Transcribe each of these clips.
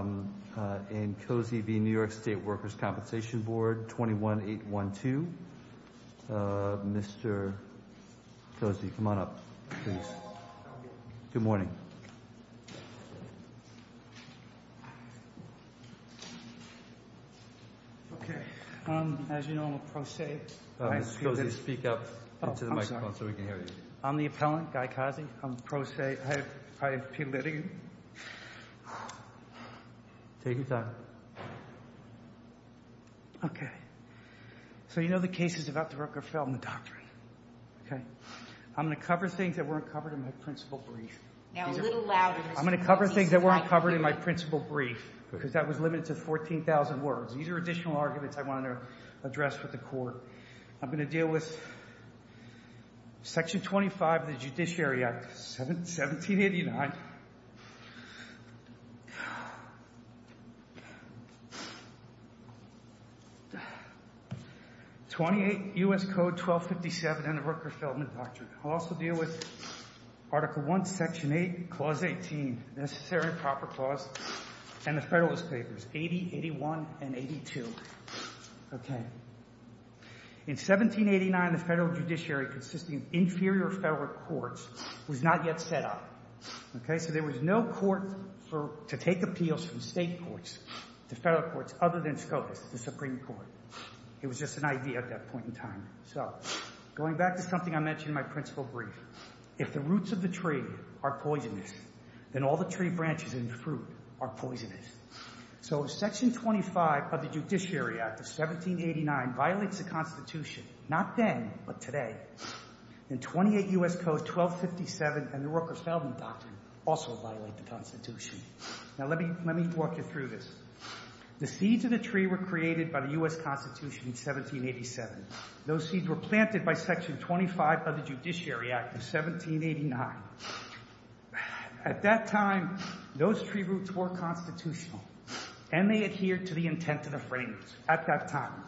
And Cozzi v. New York State Workers' Compensation Board, 21-812. Mr. Cozzi, come on up, please. Good morning. Okay, as you know, I'm a pro se. I'm supposed to speak up into the microphone so we can hear you. I'm the appellant, Guy Cozzi. I'm pro se. I have plead litigant. Take your time. Okay, so you know the case is about the Rockefeller Doctrine. Okay, I'm going to cover things that weren't covered in my principal brief. Now, a little louder. I'm going to cover things that weren't covered in my principal brief, because that was limited to 14,000 words. These are additional arguments I wanted to address with the court. I'm going to deal with Section 25 of the Judiciary Act, 1789, 28 U.S. Code 1257, and the Rockefeller Doctrine. I'll also deal with Article 1, Section 8, Clause 18, Necessary and Proper Clause, and the Federalist Papers, 80, 81, and 82. Okay, in 1789, the federal judiciary, consisting of inferior federal courts, was not yet set up. Okay, so there was no court to take appeals from state courts to federal courts other than SCOTUS, the Supreme Court. It was just an idea at that point in time. So, going back to something I mentioned in my principal brief, if the roots of the tree are poisonous, then all the tree branches and fruit are poisonous. So, Section 25 of the Judiciary Act of 1789 violates the Constitution, not then, but today. And 28 U.S. Code 1257 and the Rockefeller Doctrine also violate the Constitution. Now, let me walk you through this. The seeds of the tree were created by the U.S. Constitution in 1787. Those seeds were planted by Section 25 of the Judiciary Act of 1789. At that time, those tree roots were constitutional, and they adhered to the intent of the framers at that time.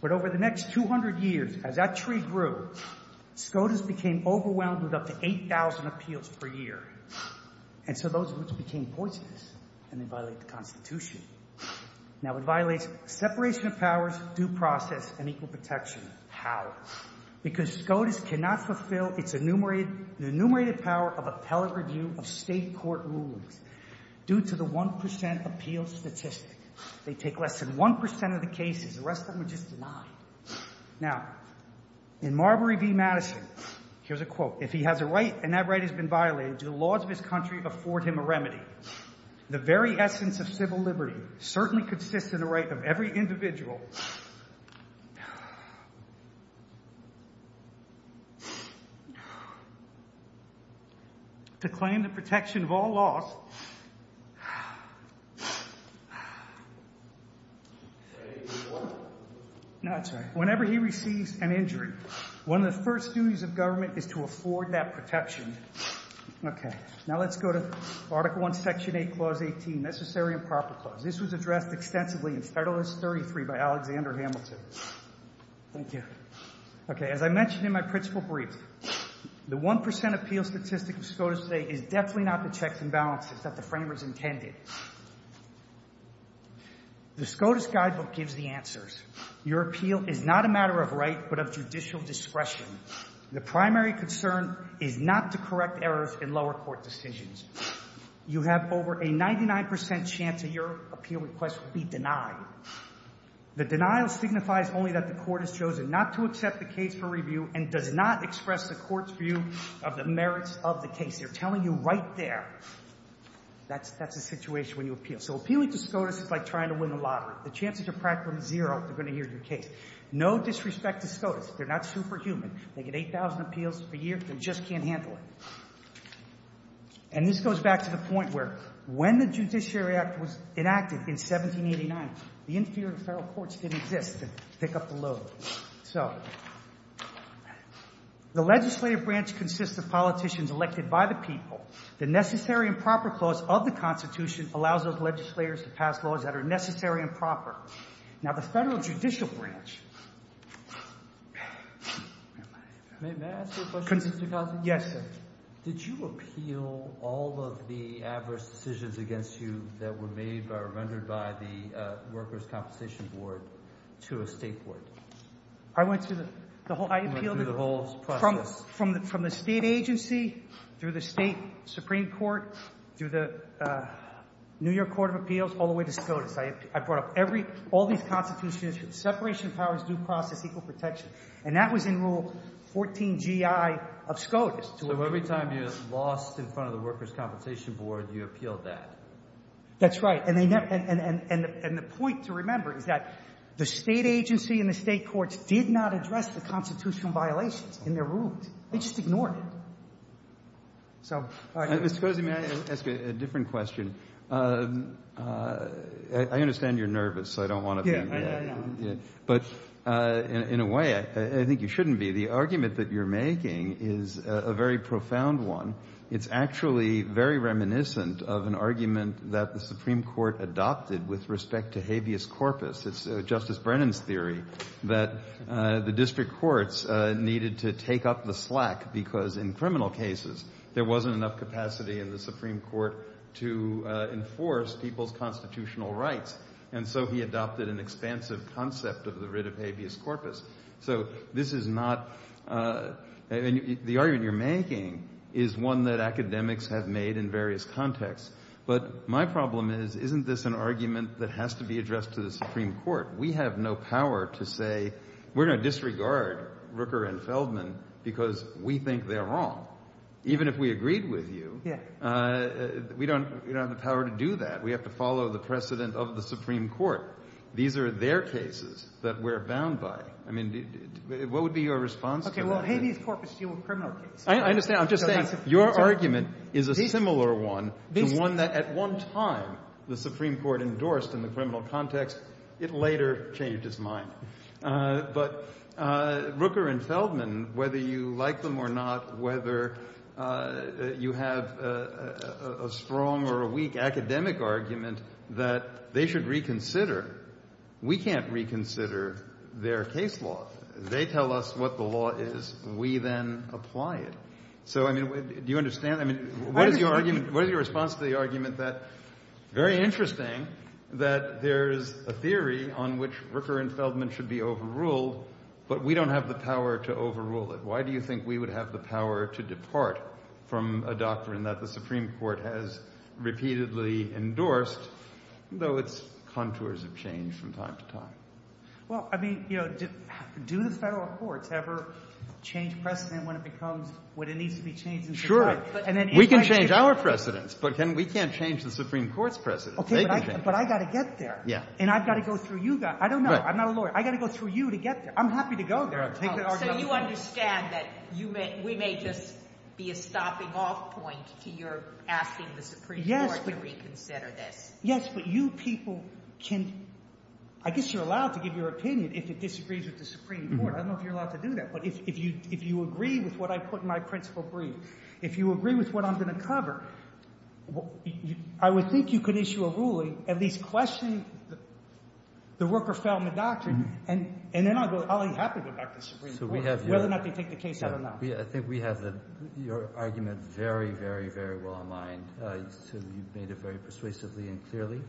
But over the next 200 years, as that tree grew, SCOTUS became overwhelmed with up to 8,000 appeals per year. And so those roots became poisonous, and they violate the Constitution. Now, it violates separation of powers, due process, and equal protection. How? Because SCOTUS cannot fulfill its enumerated power of appellate review of state court rulings due to the 1% appeal statistic. They take less than 1% of the cases. The rest of them are just denied. Now, in Marbury v. Madison, here's a quote. If he has a right and that right has been violated, do the laws of his country afford him a remedy? The very essence of civil liberty certainly consists in the right of every individual to claim the protection of all laws. Whenever he receives an injury, one of the first duties of government is to afford that protection. Okay. Now, let's go to Article I, Section 8, Clause 18, Necessary and Proper Clause. This was addressed extensively in Federalist 33 by Alexander Hamilton. Thank you. Okay, as I mentioned in my principal brief, the 1% appeal statistic of SCOTUS today is definitely not the checks and balances that the framers intended. The SCOTUS guidebook gives the answers. Your appeal is not a matter of right, but of judicial discretion. The primary concern is not to correct errors in lower court decisions. You have over a 99% chance that your appeal request will be denied. The denial signifies only that the court has chosen not to accept the case for review and does not express the court's view of the merits of the case. They're telling you right there. That's the situation when you appeal. So appealing to SCOTUS is like trying to win the lottery. The chances are practically zero if they're going to hear your case. No disrespect to SCOTUS. They're not superhuman. They get 8,000 appeals a year. They just can't handle it. And this goes back to the point where when the Judiciary Act was enacted in 1789, the inferior federal courts didn't exist to pick up the load. So the legislative branch consists of politicians elected by the people. The Necessary and Proper Clause of the Constitution allows those legislators to pass laws that are necessary and proper. Now, the federal judicial branch. May I ask you a question? Yes, sir. Did you appeal all of the adverse decisions against you that were made or rendered by the Workers' Compensation Board to a state court? I went through the whole process. From the state agency, through the state Supreme Court, through the New York Court of Appeals, all the way to SCOTUS. I brought up all these constitutions. Separation of powers, due process, equal protection. And that was in Rule 14GI of SCOTUS. So every time you lost in front of the Workers' Compensation Board, you appealed that? That's right. And the point to remember is that the state agency and the state courts did not address the constitutional violations in their rules. They just ignored it. So, all right. Ms. Scozi, may I ask you a different question? I understand you're nervous, so I don't want to be. But in a way, I think you shouldn't be. The argument that you're making is a very profound one. It's actually very reminiscent of an argument that the Supreme Court adopted with respect to habeas corpus. It's Justice Brennan's theory that the district courts needed to take up the slack because in criminal cases, there wasn't enough capacity in the Supreme Court to enforce people's constitutional rights. And so he adopted an expansive concept of the writ of habeas corpus. So this is not, and the argument you're making is one that academics have made in various contexts. But my problem is, isn't this an argument that has to be addressed to the Supreme Court? We have no power to say, we're going to disregard Rooker and Feldman because we think they're wrong. Even if we agreed with you, we don't have the power to do that. We have to follow the precedent of the Supreme Court. These are their cases that we're bound by. I mean, what would be your response? OK, well, habeas corpus deal with criminal cases. I understand. I'm just saying, your argument is a similar one to one that at one time the Supreme Court endorsed in the criminal context. It later changed its mind. But Rooker and Feldman, whether you like them or not, whether you have a strong or a weak academic argument that they should reconsider, we can't reconsider their case law. They tell us what the law is. We then apply it. So, I mean, do you understand? I mean, what is your argument? What is your response to the argument that, very interesting, that there is a theory on which Rooker and Feldman should be overruled, but we don't have the power to overrule it? Why do you think we would have the power to depart from a doctrine that the Supreme Court has repeatedly endorsed, though its contours have changed from time to time? Well, I mean, do the federal courts ever change precedent when it becomes what it needs to be changed? Sure. We can change our precedents, but we can't change the Supreme Court's precedents. But I've got to get there, and I've got to go through you guys. I don't know. I'm not a lawyer. I've got to go through you to get there. I'm happy to go there. So you understand that we may just be a stopping off point to your asking the Supreme Court to reconsider this. Yes, but you people can, I guess you're allowed to give your opinion if it disagrees with the Supreme Court. I don't know if you're allowed to do that. But if you agree with what I put in my principle brief, if you agree with what I'm going to cover, I would think you could issue a ruling, at least question the worker-fellman doctrine, and then I'll be happy to go back to the Supreme Court, whether or not they take the case out or not. I think we have your argument very, very, very well in mind. You've made it very persuasively and clearly.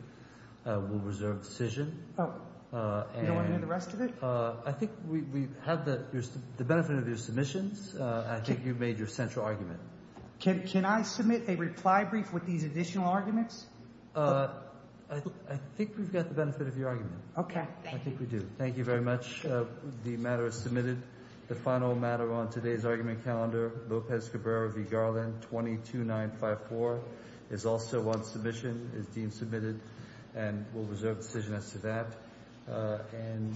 We'll reserve decision. You don't want to hear the rest of it? I think we have the benefit of your submissions. I think you've made your central argument. Can I submit a reply brief with these additional arguments? I think we've got the benefit of your argument. OK, thank you. I think we do. Thank you very much. The matter is submitted. The final matter on today's argument calendar, Lopez Cabrera v. Garland, 22954, is also on submission, is deemed submitted, and we'll reserve decision as to that. And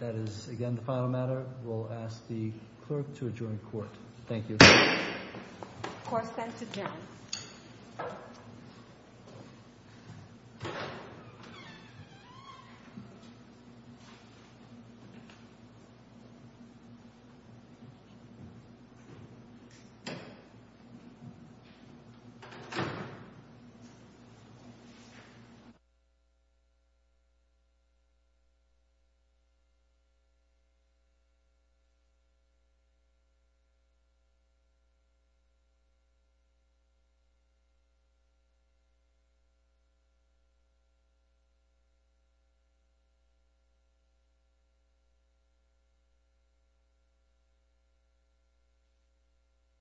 that is, again, the final matter. We'll ask the clerk to adjoin court. Thank you. Court is adjourned.